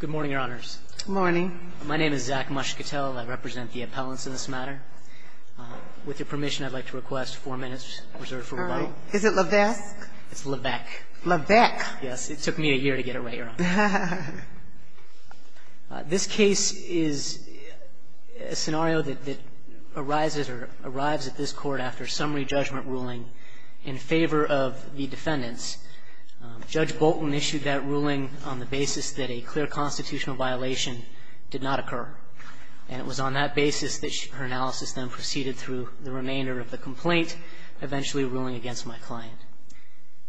Good morning, Your Honors. Good morning. My name is Zach Muscatel. I represent the appellants in this matter. With your permission, I'd like to request four minutes reserved for rebuttal. Is it Levesque? It's Levesque. Levesque. Yes, it took me a year to get it right, Your Honor. This case is a scenario that arises or arrives at this court after a summary judgment ruling in favor of the defendants. Judge Bolton issued that ruling on the basis that a clear constitutional violation did not occur. And it was on that basis that her analysis then proceeded through the remainder of the complaint, eventually ruling against my client.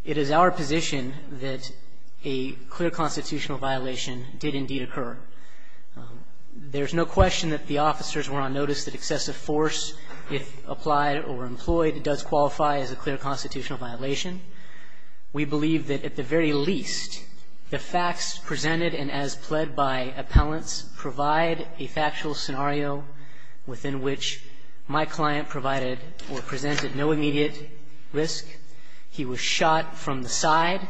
It is our position that a clear constitutional violation did indeed occur. There's no question that the officers were on notice that excessive force, if applied or employed, does qualify as a clear constitutional violation. We believe that, at the very least, the facts presented and as pled by appellants provide a factual scenario within which my client provided or presented no immediate risk. He was shot from the side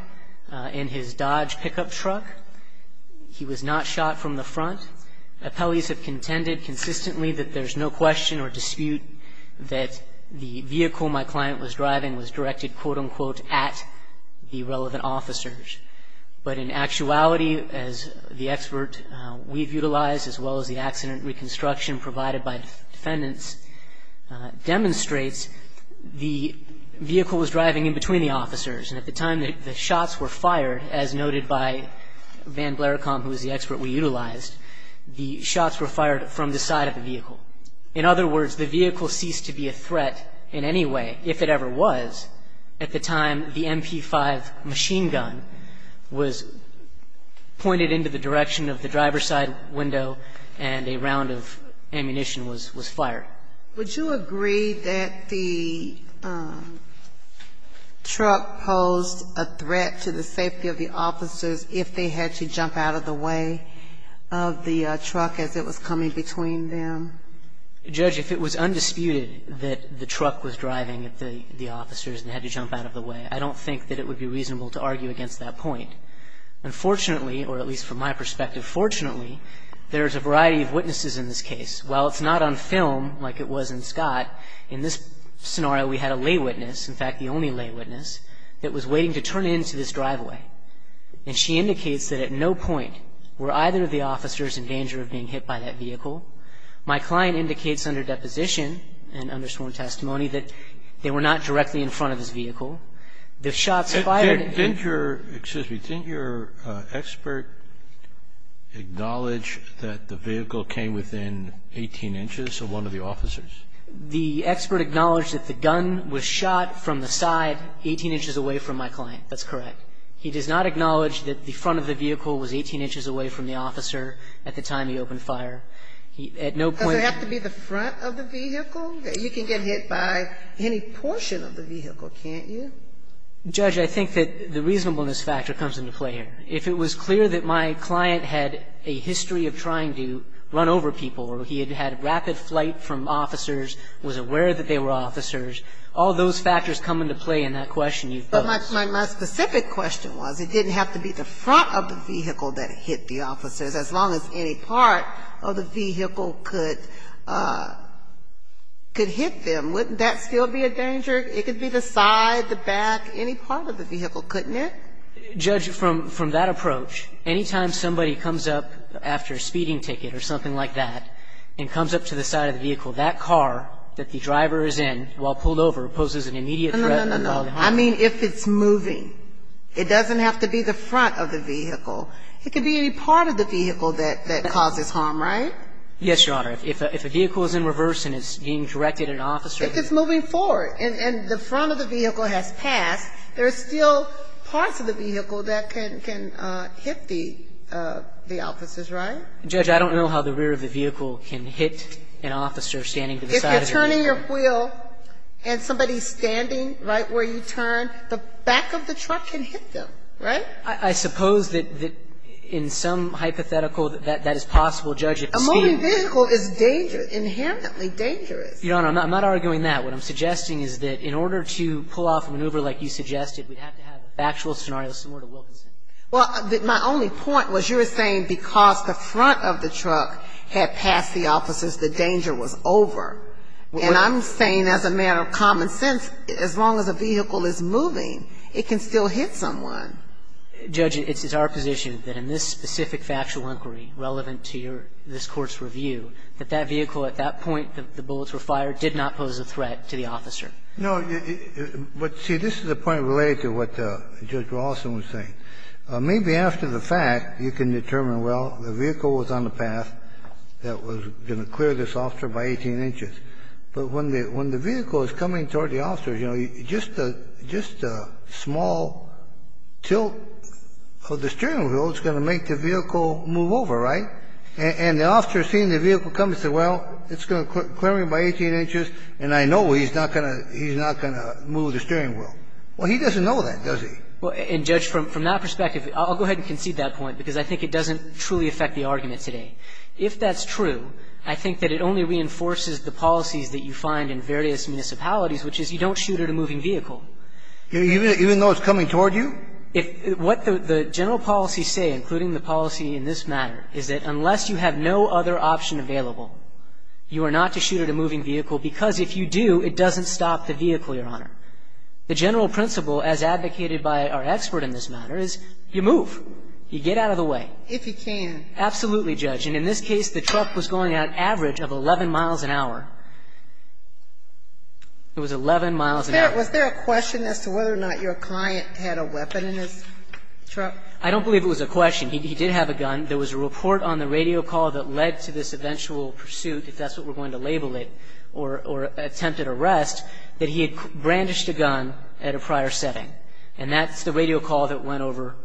in his Dodge pickup truck. He was not shot from the front. Appellees have contended consistently that there's no question or dispute that the vehicle my client was driving was directed, quote-unquote, at the relevant officers. But in actuality, as the expert we've utilized, as well as the accident reconstruction provided by defendants, And at the time the shots were fired, as noted by Van Blericombe, who was the expert we utilized, the shots were fired from the side of the vehicle. In other words, the vehicle ceased to be a threat in any way, if it ever was, at the time the MP5 machine gun was pointed into the direction of the driver's side window and a round of ammunition was fired. Would you agree that the truck posed a threat to the safety of the officers if they had to jump out of the way of the truck as it was coming between them? Judge, if it was undisputed that the truck was driving the officers and had to jump out of the way, I don't think that it would be reasonable to argue against that point. Unfortunately, or at least from my perspective, fortunately, there's a variety of witnesses in this case. While it's not on film like it was in Scott, in this scenario we had a lay witness, in fact, the only lay witness, that was waiting to turn into this driveway. And she indicates that at no point were either of the officers in danger of being hit by that vehicle. My client indicates under deposition and under sworn testimony that they were not directly in front of his vehicle. The shots fired at him. Excuse me. Didn't your expert acknowledge that the vehicle came within 18 inches of one of the officers? The expert acknowledged that the gun was shot from the side 18 inches away from my client. That's correct. He does not acknowledge that the front of the vehicle was 18 inches away from the officer at the time he opened fire. At no point. Does it have to be the front of the vehicle? You can get hit by any portion of the vehicle, can't you? Judge, I think that the reasonableness factor comes into play here. If it was clear that my client had a history of trying to run over people or he had had rapid flight from officers, was aware that they were officers, all those factors come into play in that question you posed. But my specific question was it didn't have to be the front of the vehicle that hit the officers. As long as any part of the vehicle could hit them, wouldn't that still be a danger? It could be the side, the back, any part of the vehicle, couldn't it? Judge, from that approach, any time somebody comes up after a speeding ticket or something like that and comes up to the side of the vehicle, that car that the driver is in while pulled over poses an immediate threat. No, no, no, no. I mean if it's moving. It doesn't have to be the front of the vehicle. It could be any part of the vehicle that causes harm, right? Yes, Your Honor. If a vehicle is in reverse and it's being directed at an officer. If it's moving forward and the front of the vehicle has passed, there are still parts of the vehicle that can hit the officers, right? Judge, I don't know how the rear of the vehicle can hit an officer standing to the side of the vehicle. If you're turning your wheel and somebody's standing right where you turn, the back of the truck can hit them, right? I suppose that in some hypothetical that that is possible, Judge. A moving vehicle is dangerous, inherently dangerous. Your Honor, I'm not arguing that. What I'm suggesting is that in order to pull off a maneuver like you suggested, we'd have to have a factual scenario similar to Wilkinson. Well, my only point was you were saying because the front of the truck had passed the officers, the danger was over. And I'm saying as a matter of common sense, as long as a vehicle is moving, it can still hit someone. Judge, it's our position that in this specific factual inquiry relevant to this Court's But, see, this is a point related to what Judge Rawlston was saying. Maybe after the fact you can determine, well, the vehicle was on the path that was going to clear this officer by 18 inches. But when the vehicle is coming toward the officers, you know, just a small tilt of the steering wheel is going to make the vehicle move over, right? And the officer seeing the vehicle coming said, well, it's going to clear him by 18 inches, and I know he's not going to move the steering wheel. Well, he doesn't know that, does he? Well, and, Judge, from that perspective, I'll go ahead and concede that point, because I think it doesn't truly affect the argument today. If that's true, I think that it only reinforces the policies that you find in various municipalities, which is you don't shoot at a moving vehicle. Even though it's coming toward you? If what the general policies say, including the policy in this matter, is that unless you have no other option available, you are not to shoot at a moving vehicle, because if you do, it doesn't stop the vehicle, Your Honor. The general principle, as advocated by our expert in this matter, is you move. You get out of the way. If you can. Absolutely, Judge. And in this case, the truck was going at an average of 11 miles an hour. It was 11 miles an hour. Was there a question as to whether or not your client had a weapon in his truck? I don't believe it was a question. He did have a gun. There was a report on the radio call that led to this eventual pursuit, if that's what we're going to label it, or attempted arrest, that he had brandished a gun at a prior setting. And that's the radio call that went over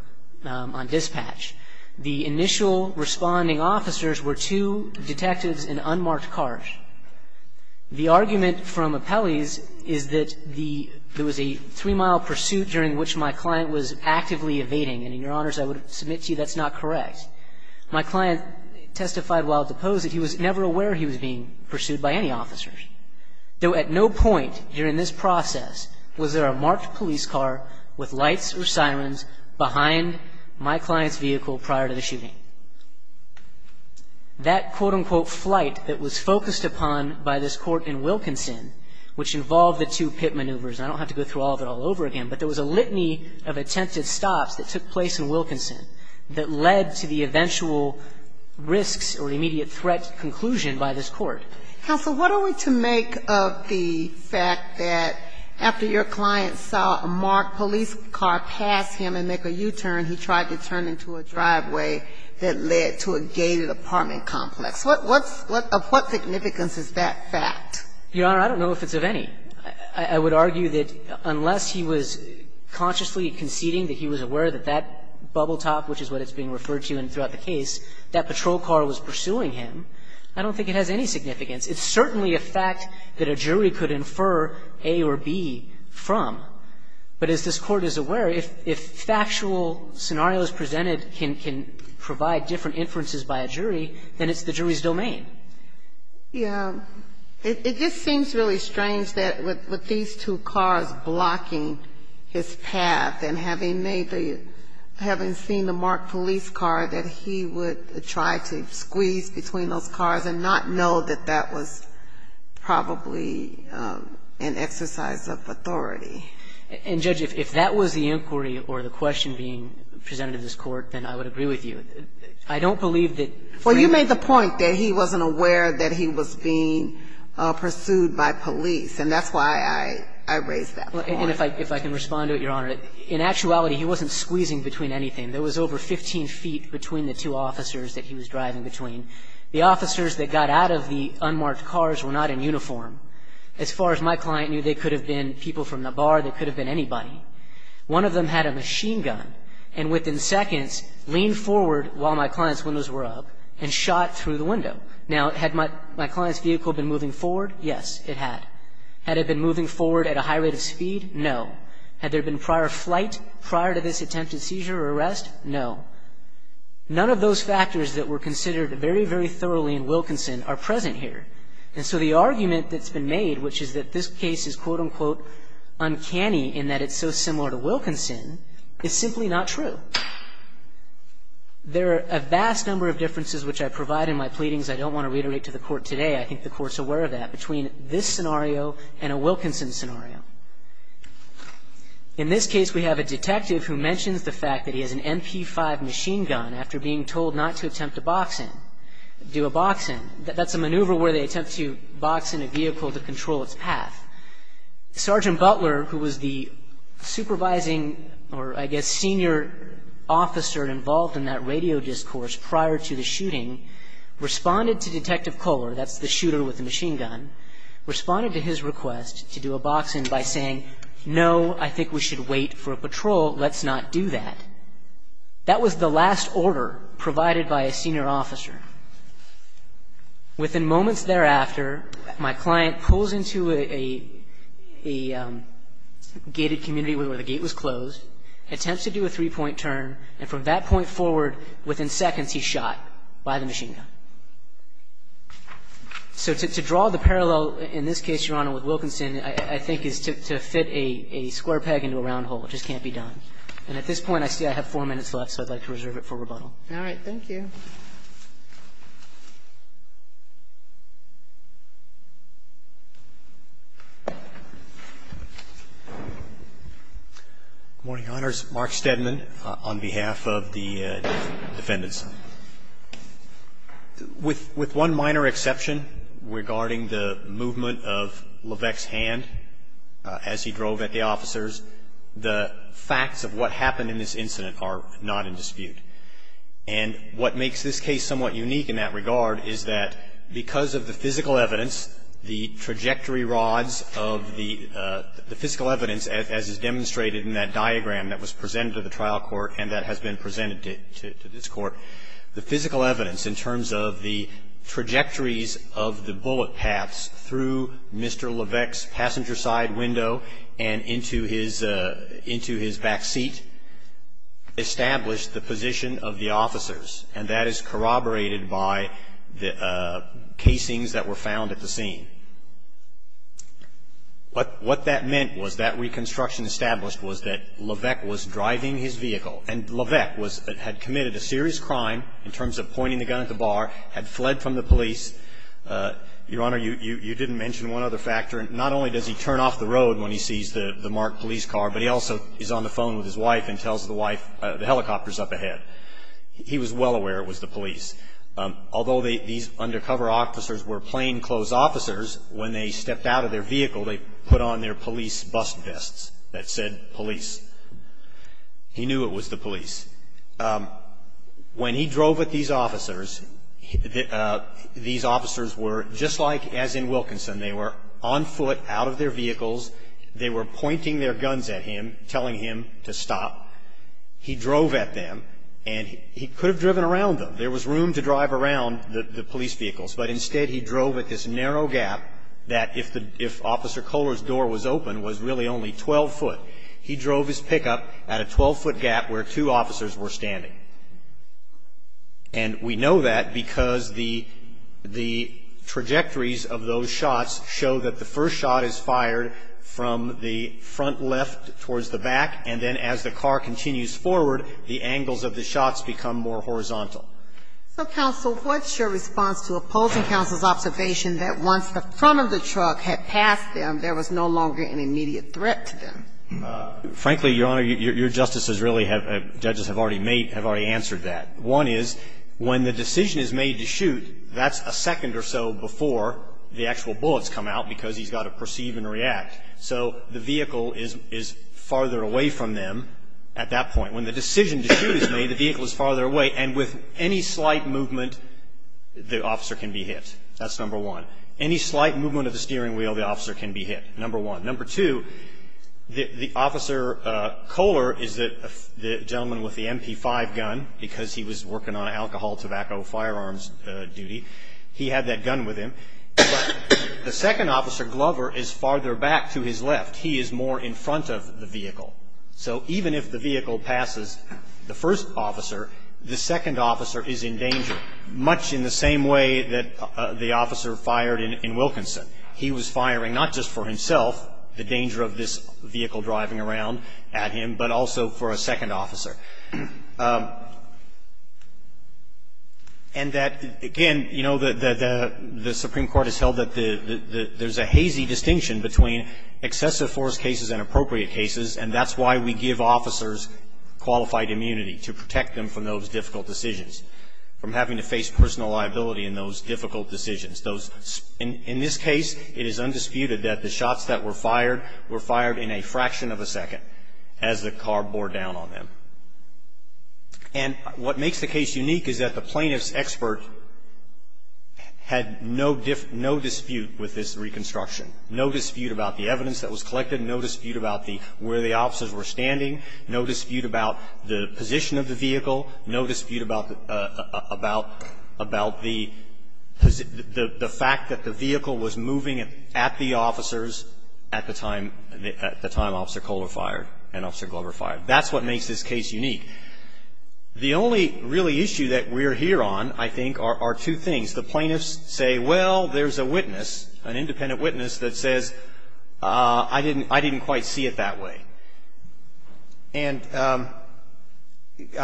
on dispatch. The initial responding officers were two detectives in unmarked cars. The argument from appellees is that there was a three-mile pursuit during which my client was actively evading. And, Your Honors, I would submit to you that's not correct. My client testified while deposed that he was never aware he was being pursued by any officers, though at no point during this process was there a marked police car with lights or sirens behind my client's vehicle prior to the shooting. That quote-unquote flight that was focused upon by this court in Wilkinson, which involved the two pit maneuvers, and I don't have to go through all of it all over again, but there was a litany of attempted stops that took place in Wilkinson that led to the eventual risks or immediate threat conclusion by this court. Counsel, what are we to make of the fact that after your client saw a marked police car pass him and make a U-turn, he tried to turn into a driveway that led to a gated apartment complex? What's the significance of that fact? Your Honor, I don't know if it's of any. I would argue that unless he was consciously conceding that he was aware that that bubble top, which is what it's being referred to throughout the case, that patrol car was pursuing him, I don't think it has any significance. It's certainly a fact that a jury could infer A or B from. But as this Court is aware, if factual scenarios presented can provide different inferences by a jury, then it's the jury's domain. Yeah. It just seems really strange that with these two cars blocking his path and having made the, having seen the marked police car, that he would try to squeeze between those cars and not know that that was probably an exercise of authority. And, Judge, if that was the inquiry or the question being presented to this Court, then I would agree with you. I don't believe that. Well, you made the point that he wasn't aware that he was being pursued by police, and that's why I raised that point. And if I can respond to it, Your Honor, in actuality, he wasn't squeezing between anything. There was over 15 feet between the two officers that he was driving between. The officers that got out of the unmarked cars were not in uniform. As far as my client knew, they could have been people from the bar. They could have been anybody. One of them had a machine gun and within seconds leaned forward while my client's windows were up and shot through the window. Now, had my client's vehicle been moving forward? Yes, it had. Had it been moving forward at a high rate of speed? No. Had there been prior flight prior to this attempted seizure or arrest? No. None of those factors that were considered very, very thoroughly in Wilkinson are present here. And so the argument that's been made, which is that this case is, quote, unquote, uncanny in that it's so similar to Wilkinson, is simply not true. There are a vast number of differences which I provide in my pleadings. I don't want to reiterate to the Court today. I think the Court's aware of that, between this scenario and a Wilkinson scenario. In this case, we have a detective who mentions the fact that he has an MP5 machine gun after being told not to attempt to box in, do a box in. That's a maneuver where they attempt to box in a vehicle to control its path. Sergeant Butler, who was the supervising or, I guess, senior officer involved in that radio discourse prior to the shooting, responded to Detective Kohler, that's the shooter with the machine gun, responded to his request to do a box in by saying, no, I think we should wait for a patrol, let's not do that. That was the last order provided by a senior officer. Within moments thereafter, my client pulls into a gated community where the gate was closed, attempts to do a three-point turn, and from that point forward, within seconds, he's shot by the machine gun. So to draw the parallel, in this case, Your Honor, with Wilkinson, I think is to fit a square peg into a round hole. It just can't be done. And at this point, I see I have four minutes left, so I'd like to reserve it for rebuttal. All right. Thank you. Good morning, Your Honors. Mark Stedman on behalf of the defendants. With one minor exception regarding the movement of Levesque's hand as he drove at the officers, the facts of what happened in this incident are not in dispute. And what makes this case somewhat unique in that regard is that because of the physical evidence, the trajectory rods of the physical evidence, as is demonstrated in that diagram that was presented to the trial court and that has been presented to this court, the physical evidence, in terms of the trajectories of the bullet paths through Mr. Levesque's passenger side window and into his back seat, established the position of the officers, and that is corroborated by the casings that were found at the scene. What that meant was that reconstruction established was that Levesque was driving his vehicle, and Levesque had committed a serious crime in terms of pointing the gun at the bar, had fled from the police. Your Honor, you didn't mention one other factor. Not only does he turn off the road when he sees the marked police car, but he also is on the phone with his wife and tells the wife the helicopter is up ahead. He was well aware it was the police. Although these undercover officers were plainclothes officers, when they stepped out of their vehicle, they put on their police bust vests that said police. He knew it was the police. When he drove with these officers, these officers were just like as in Wilkinson. They were on foot, out of their vehicles. They were pointing their guns at him, telling him to stop. He drove at them, and he could have driven around them. There was room to drive around the police vehicles, but instead he drove at this narrow gap that if Officer Kohler's door was open was really only 12 foot. He drove his pickup at a 12-foot gap where two officers were standing. And we know that because the trajectories of those shots show that the first shot is fired from the front left towards the back, and then as the car continues forward, the angles of the shots become more horizontal. So, counsel, what's your response to opposing counsel's observation that once the front of the truck had passed them, there was no longer an immediate threat to them? Frankly, Your Honor, your justices really have ‑‑ judges have already made ‑‑ have already answered that. One is when the decision is made to shoot, that's a second or so before the actual bullets come out because he's got to perceive and react. So the vehicle is farther away from them at that point. When the decision to shoot is made, the vehicle is farther away, and with any slight movement, the officer can be hit. That's number one. Any slight movement of the steering wheel, the officer can be hit. Number one. Number two, the Officer Kohler is the gentleman with the MP5 gun because he was working on alcohol, tobacco, firearms duty. He had that gun with him. But the second officer, Glover, is farther back to his left. He is more in front of the vehicle. So even if the vehicle passes the first officer, the second officer is in danger, much in the same way that the officer fired in Wilkinson. He was firing not just for himself, the danger of this vehicle driving around at him, but also for a second officer. And that, again, you know, the Supreme Court has held that there's a hazy distinction between excessive force cases and appropriate cases, and that's why we give officers qualified immunity, to protect them from those difficult decisions, from having to face personal liability in those difficult decisions. In this case, it is undisputed that the shots that were fired were fired in a fraction of a second as the car bore down on them. And what makes the case unique is that the plaintiff's expert had no dispute with this reconstruction, no dispute about the evidence that was collected, no dispute about where the officers were standing, no dispute about the position of the vehicle, no dispute about the fact that the vehicle was moving at the officers at the time Officer Kohler fired and Officer Glover fired. That's what makes this case unique. The only really issue that we're here on, I think, are two things. The plaintiffs say, well, there's a witness, an independent witness that says, I didn't quite see it that way. And I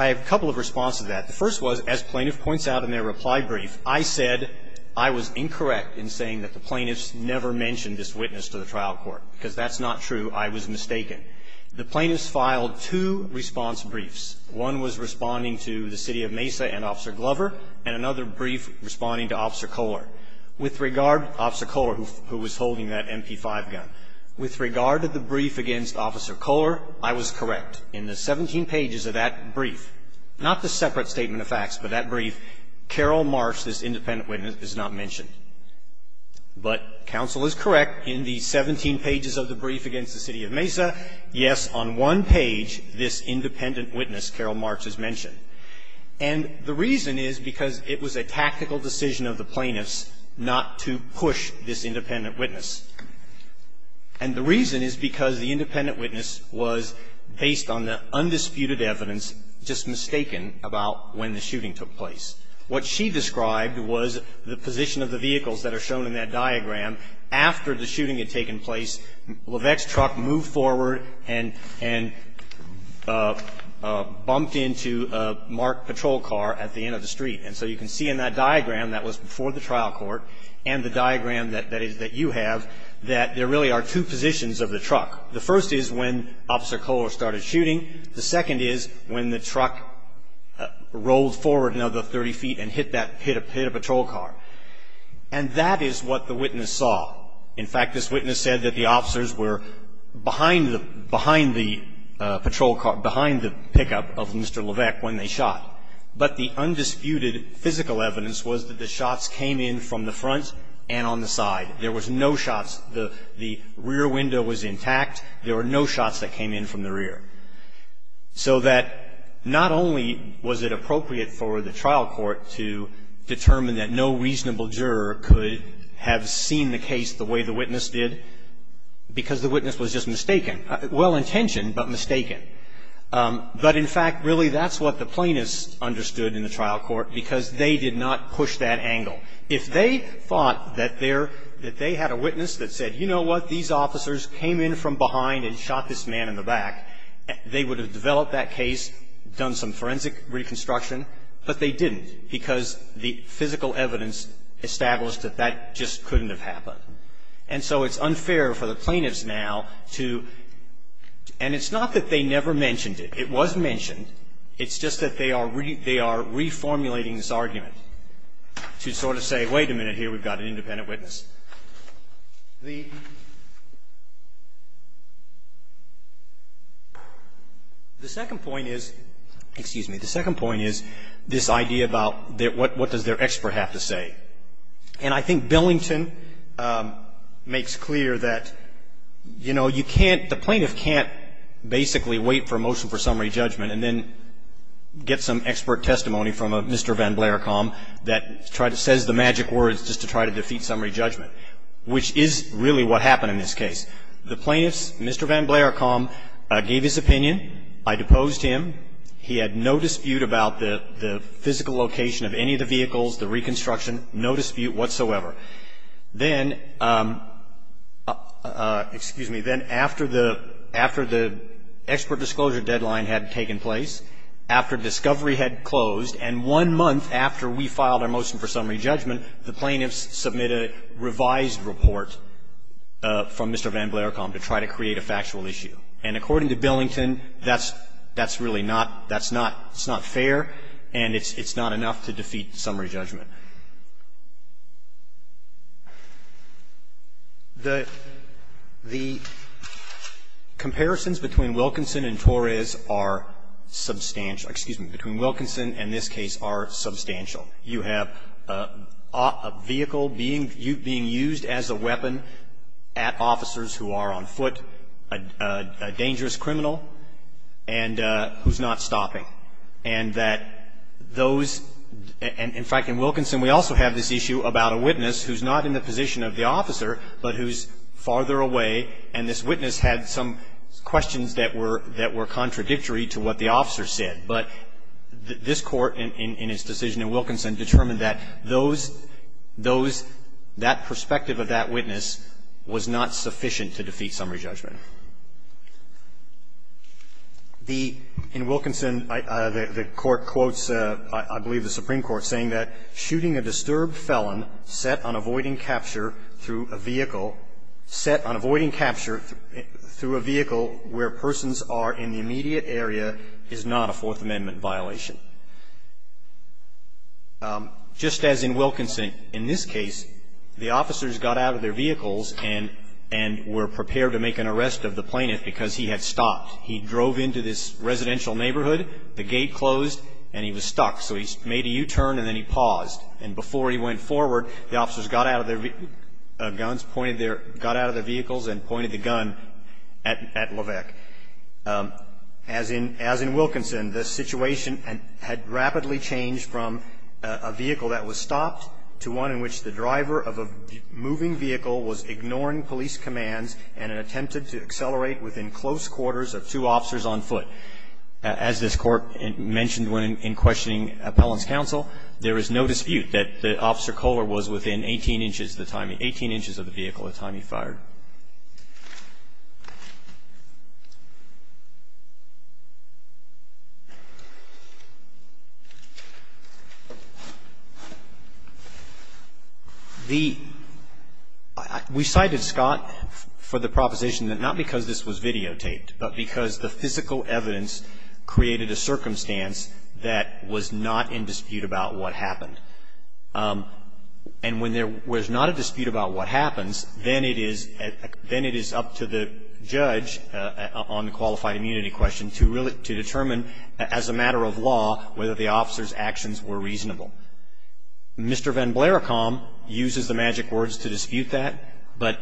have a couple of responses to that. The first was, as plaintiff points out in their reply brief, I said I was incorrect in saying that the plaintiffs never mentioned this witness to the trial court, because that's not true. I was mistaken. The plaintiffs filed two response briefs. One was responding to the City of Mesa and Officer Glover, and another brief responding to Officer Kohler. With regard to Officer Kohler, who was holding that MP5 gun, with regard to the brief against Officer Kohler, I was correct. In the 17 pages of that brief, not the separate statement of facts, but that brief, Carol Marsh, this independent witness, is not mentioned. But counsel is correct in the 17 pages of the brief against the City of Mesa. Yes, on one page, this independent witness, Carol Marsh, is mentioned. And the reason is because it was a tactical decision of the plaintiffs not to push this independent witness. And the reason is because the independent witness was, based on the undisputed evidence, just mistaken about when the shooting took place. What she described was the position of the vehicles that are shown in that diagram after the shooting had taken place. Levesque's truck moved forward and bumped into a marked patrol car at the end of the street. And so you can see in that diagram that was before the trial court, and the diagram that you have, that there really are two positions of the truck. The first is when Officer Kohler started shooting. The second is when the truck rolled forward another 30 feet and hit a patrol car. And that is what the witness saw. In fact, this witness said that the officers were behind the patrol car, behind the pickup of Mr. Levesque when they shot. But the undisputed physical evidence was that the shots came in from the front and on the side. There was no shots. The rear window was intact. There were no shots that came in from the rear. So that not only was it appropriate for the trial court to determine that no reasonable juror could have seen the case the way the witness did, because the witness was just mistaken. Well-intentioned, but mistaken. But, in fact, really that's what the plaintiffs understood in the trial court, because they did not push that angle. If they thought that they had a witness that said, you know what, these officers came in from behind and shot this man in the back, they would have developed that case, done some forensic reconstruction. But they didn't, because the physical evidence established that that just couldn't have happened. And so it's unfair for the plaintiffs now to – and it's not that they never mentioned it. It was mentioned. It's just that they are reformulating this argument to sort of say, wait a minute here, we've got an independent witness. The second point is – excuse me. The second point is this idea about what does their expert have to say. And I think Billington makes clear that, you know, you can't – the plaintiff can't basically wait for a motion for summary judgment and then get some expert testimony from a Mr. Van Blarecombe that says the magic words just to try to defeat summary judgment, which is really what happened in this case. The plaintiffs, Mr. Van Blarecombe gave his opinion. I deposed him. He had no dispute about the physical location of any of the vehicles, the reconstruction, no dispute whatsoever. Then – excuse me. Then after the – after the expert disclosure deadline had taken place, after discovery had closed, and one month after we filed our motion for summary judgment, the plaintiffs submit a revised report from Mr. Van Blarecombe to try to create a factual issue. And according to Billington, that's – that's really not – that's not – it's not fair, and it's not enough to defeat summary judgment. The – the comparisons between Wilkinson and Torres are substantial – excuse me – between Wilkinson and this case are substantial. You have a vehicle being used as a weapon at officers who are on foot, a dangerous criminal, and who's not stopping. And that those – in fact, in Wilkinson, we also have this issue about a witness who's not in the position of the officer, but who's farther away, and this witness had some questions that were – that were contradictory to what the officer said. But this Court, in its decision in Wilkinson, determined that those – those – that perspective of that witness was not sufficient to defeat summary judgment. The – in Wilkinson, the Court quotes, I believe, the Supreme Court saying that shooting a disturbed felon set on avoiding capture through a vehicle – set on avoiding capture through a vehicle where persons are in the immediate area is not a Fourth Amendment violation. Just as in Wilkinson, in this case, the officers got out of their vehicles and – and were prepared to make an arrest of the plaintiff because he had stopped. He drove into this residential neighborhood, the gate closed, and he was stuck. So he made a U-turn and then he paused. And before he went forward, the officers got out of their guns, pointed their – got out of their vehicles and pointed the gun at – at Levesque. As in – as in Wilkinson, the situation had rapidly changed from a vehicle that was to accelerate within close quarters of two officers on foot. As this Court mentioned when in questioning appellant's counsel, there is no dispute that Officer Kohler was within 18 inches of the time – 18 inches of the vehicle the time he fired. The – we cited Scott for the proposition that not because this was videotaped, but because the physical evidence created a circumstance that was not in dispute about what happened. And when there was not a dispute about what happens, then it is – then it is up to the judge on the qualified immunity question to really – to determine as a matter of law whether the officers' actions were reasonable. Mr. Van Blericombe uses the magic words to dispute that, but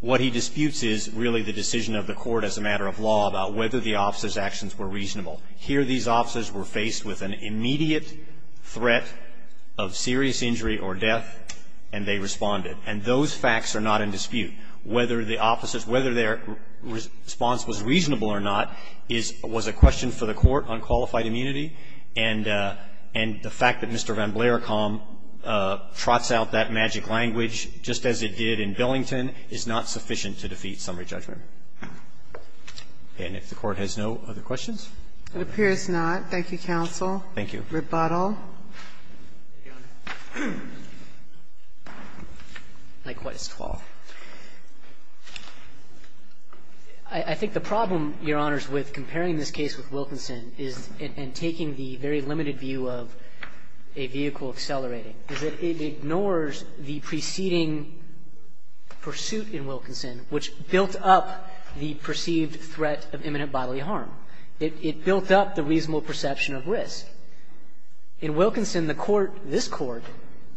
what he disputes is really the decision of the Court as a matter of law about whether the officers' actions were reasonable. Here these officers were faced with an immediate threat of serious injury or death, and they responded. And those facts are not in dispute. Whether the officers – whether their response was reasonable or not is – was a question for the Court on qualified immunity. And the fact that Mr. Van Blericombe trots out that magic language just as it did in Billington is not sufficient to defeat summary judgment. And if the Court has no other questions? It appears not. Thank you, counsel. Thank you. Rebuttal. Likewise to all. I think the problem, Your Honors, with comparing this case with Wilkinson is – and taking the very limited view of a vehicle accelerating, is that it ignores the preceding pursuit in Wilkinson, which built up the perceived threat of imminent bodily harm. It built up the reasonable perception of risk. In Wilkinson, the Court, this Court,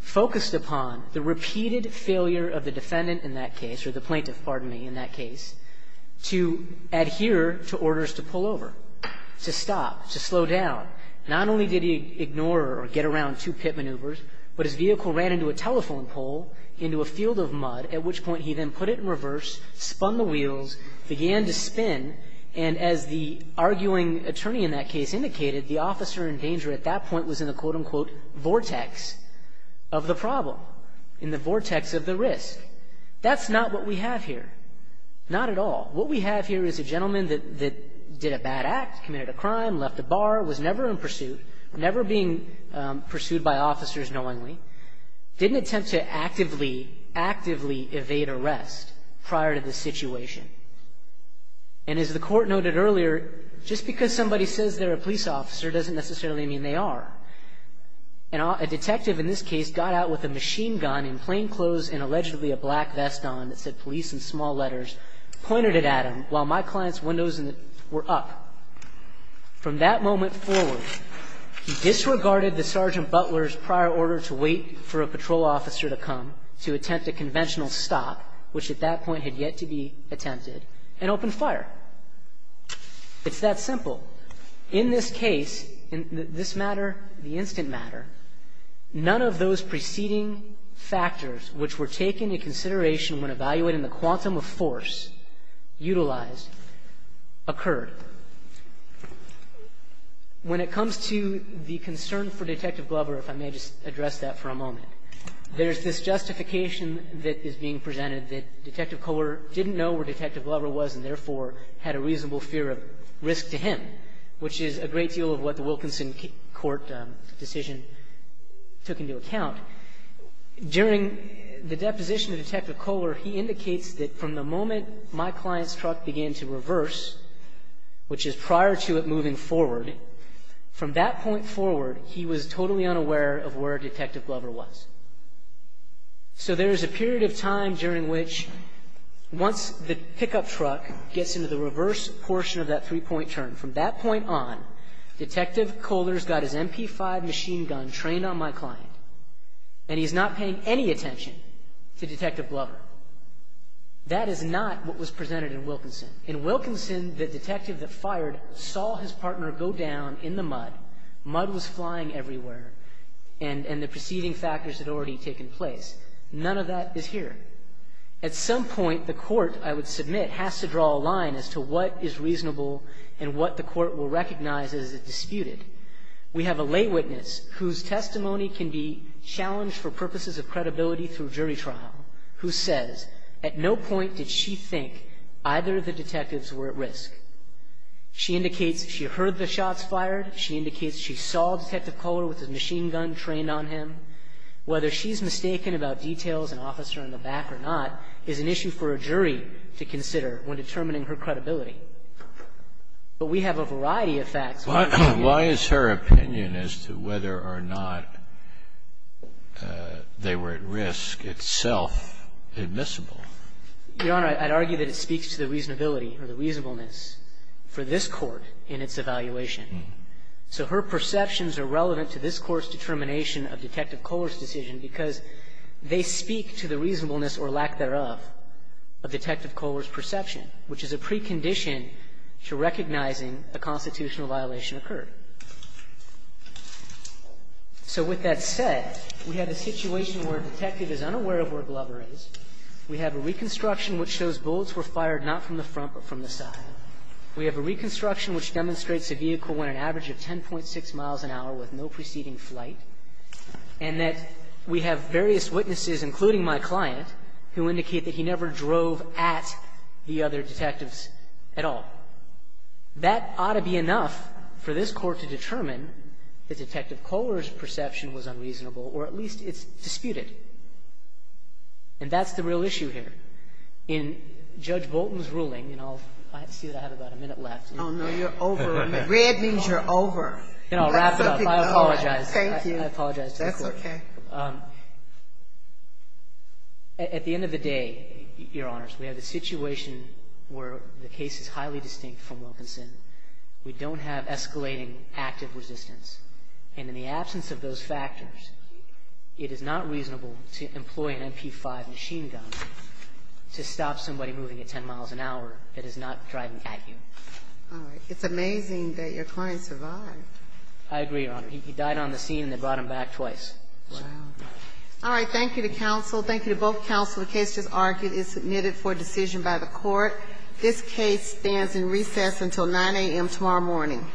focused upon the repeated failure of the defendant in that case, or the plaintiff, pardon me, in that case, to adhere to orders to pull over, to stop, to slow down. Not only did he ignore or get around two pit maneuvers, but his vehicle ran into a telephone pole, into a field of mud, at which point he then put it in reverse, spun the wheels, began to spin, and as the arguing attorney in that case indicated, the officer in danger at that point was in the, quote-unquote, vortex of the problem, in the vortex of the risk. That's not what we have here. Not at all. What we have here is a gentleman that did a bad act, committed a crime, left a bar, was never in pursuit, never being pursued by officers knowingly, didn't attempt to actively, actively evade arrest prior to the situation. And as the Court noted earlier, just because somebody says they're a police officer doesn't necessarily mean they are. A detective in this case got out with a machine gun in plain clothes and allegedly a black vest on that said police in small letters, pointed it at him while my client's windows were up. From that moment forward, he disregarded the Sergeant Butler's prior order to wait for a patrol officer to come to attempt a conventional stop, which at that point had yet to be attempted, and opened fire. It's that simple. In this case, in this matter, the instant matter, none of those preceding factors which were When it comes to the concern for Detective Glover, if I may just address that for a moment, there's this justification that is being presented that Detective Kohler didn't know where Detective Glover was and therefore had a reasonable fear of risk to him, which is a great deal of what the Wilkinson Court decision took into account. During the deposition of Detective Kohler, he indicates that from the moment my client's which is prior to it moving forward, from that point forward, he was totally unaware of where Detective Glover was. So there is a period of time during which once the pickup truck gets into the reverse portion of that three-point turn, from that point on, Detective Kohler's got his MP5 machine gun trained on my client and he's not paying any attention to Detective Glover. That is not what was presented in Wilkinson. In Wilkinson, the detective that fired saw his partner go down in the mud. Mud was flying everywhere and the preceding factors had already taken place. None of that is here. At some point, the court, I would submit, has to draw a line as to what is reasonable and what the court will recognize as disputed. We have a lay witness whose testimony can be challenged for purposes of credibility through jury trial who says at no point did she think either of the detectives were at risk. She indicates she heard the shots fired. She indicates she saw Detective Kohler with his machine gun trained on him. Whether she's mistaken about details, an officer in the back or not, is an issue for a jury to consider when determining her credibility. But we have a variety of facts. Why is her opinion as to whether or not they were at risk itself admissible? Your Honor, I'd argue that it speaks to the reasonability or the reasonableness for this Court in its evaluation. So her perceptions are relevant to this Court's determination of Detective Kohler's decision because they speak to the reasonableness or lack thereof of Detective Kohler's decision. And so we have a recondition to recognizing a constitutional violation occurred. So with that said, we have a situation where a detective is unaware of where Glover is. We have a reconstruction which shows bullets were fired not from the front but from the side. We have a reconstruction which demonstrates a vehicle went an average of 10.6 miles an hour with no preceding flight. And that we have various witnesses, including my client, who indicate that he never drove at the other detectives at all. That ought to be enough for this Court to determine that Detective Kohler's perception was unreasonable, or at least it's disputed. And that's the real issue here. In Judge Bolton's ruling, and I'll see that I have about a minute left. Oh, no, you're over. Red means you're over. Then I'll wrap it up. I apologize. Thank you. I apologize to the Court. That's okay. At the end of the day, Your Honors, we have a situation where the case is highly distinct from Wilkinson. We don't have escalating active resistance. And in the absence of those factors, it is not reasonable to employ an MP5 machine gun to stop somebody moving at 10 miles an hour that is not driving at you. All right. It's amazing that your client survived. I agree, Your Honor. He died on the scene, and they brought him back twice. All right. Thank you to counsel. Thank you to both counsel. The case just argued is submitted for decision by the Court. This case stands in recess until 9 a.m. tomorrow morning.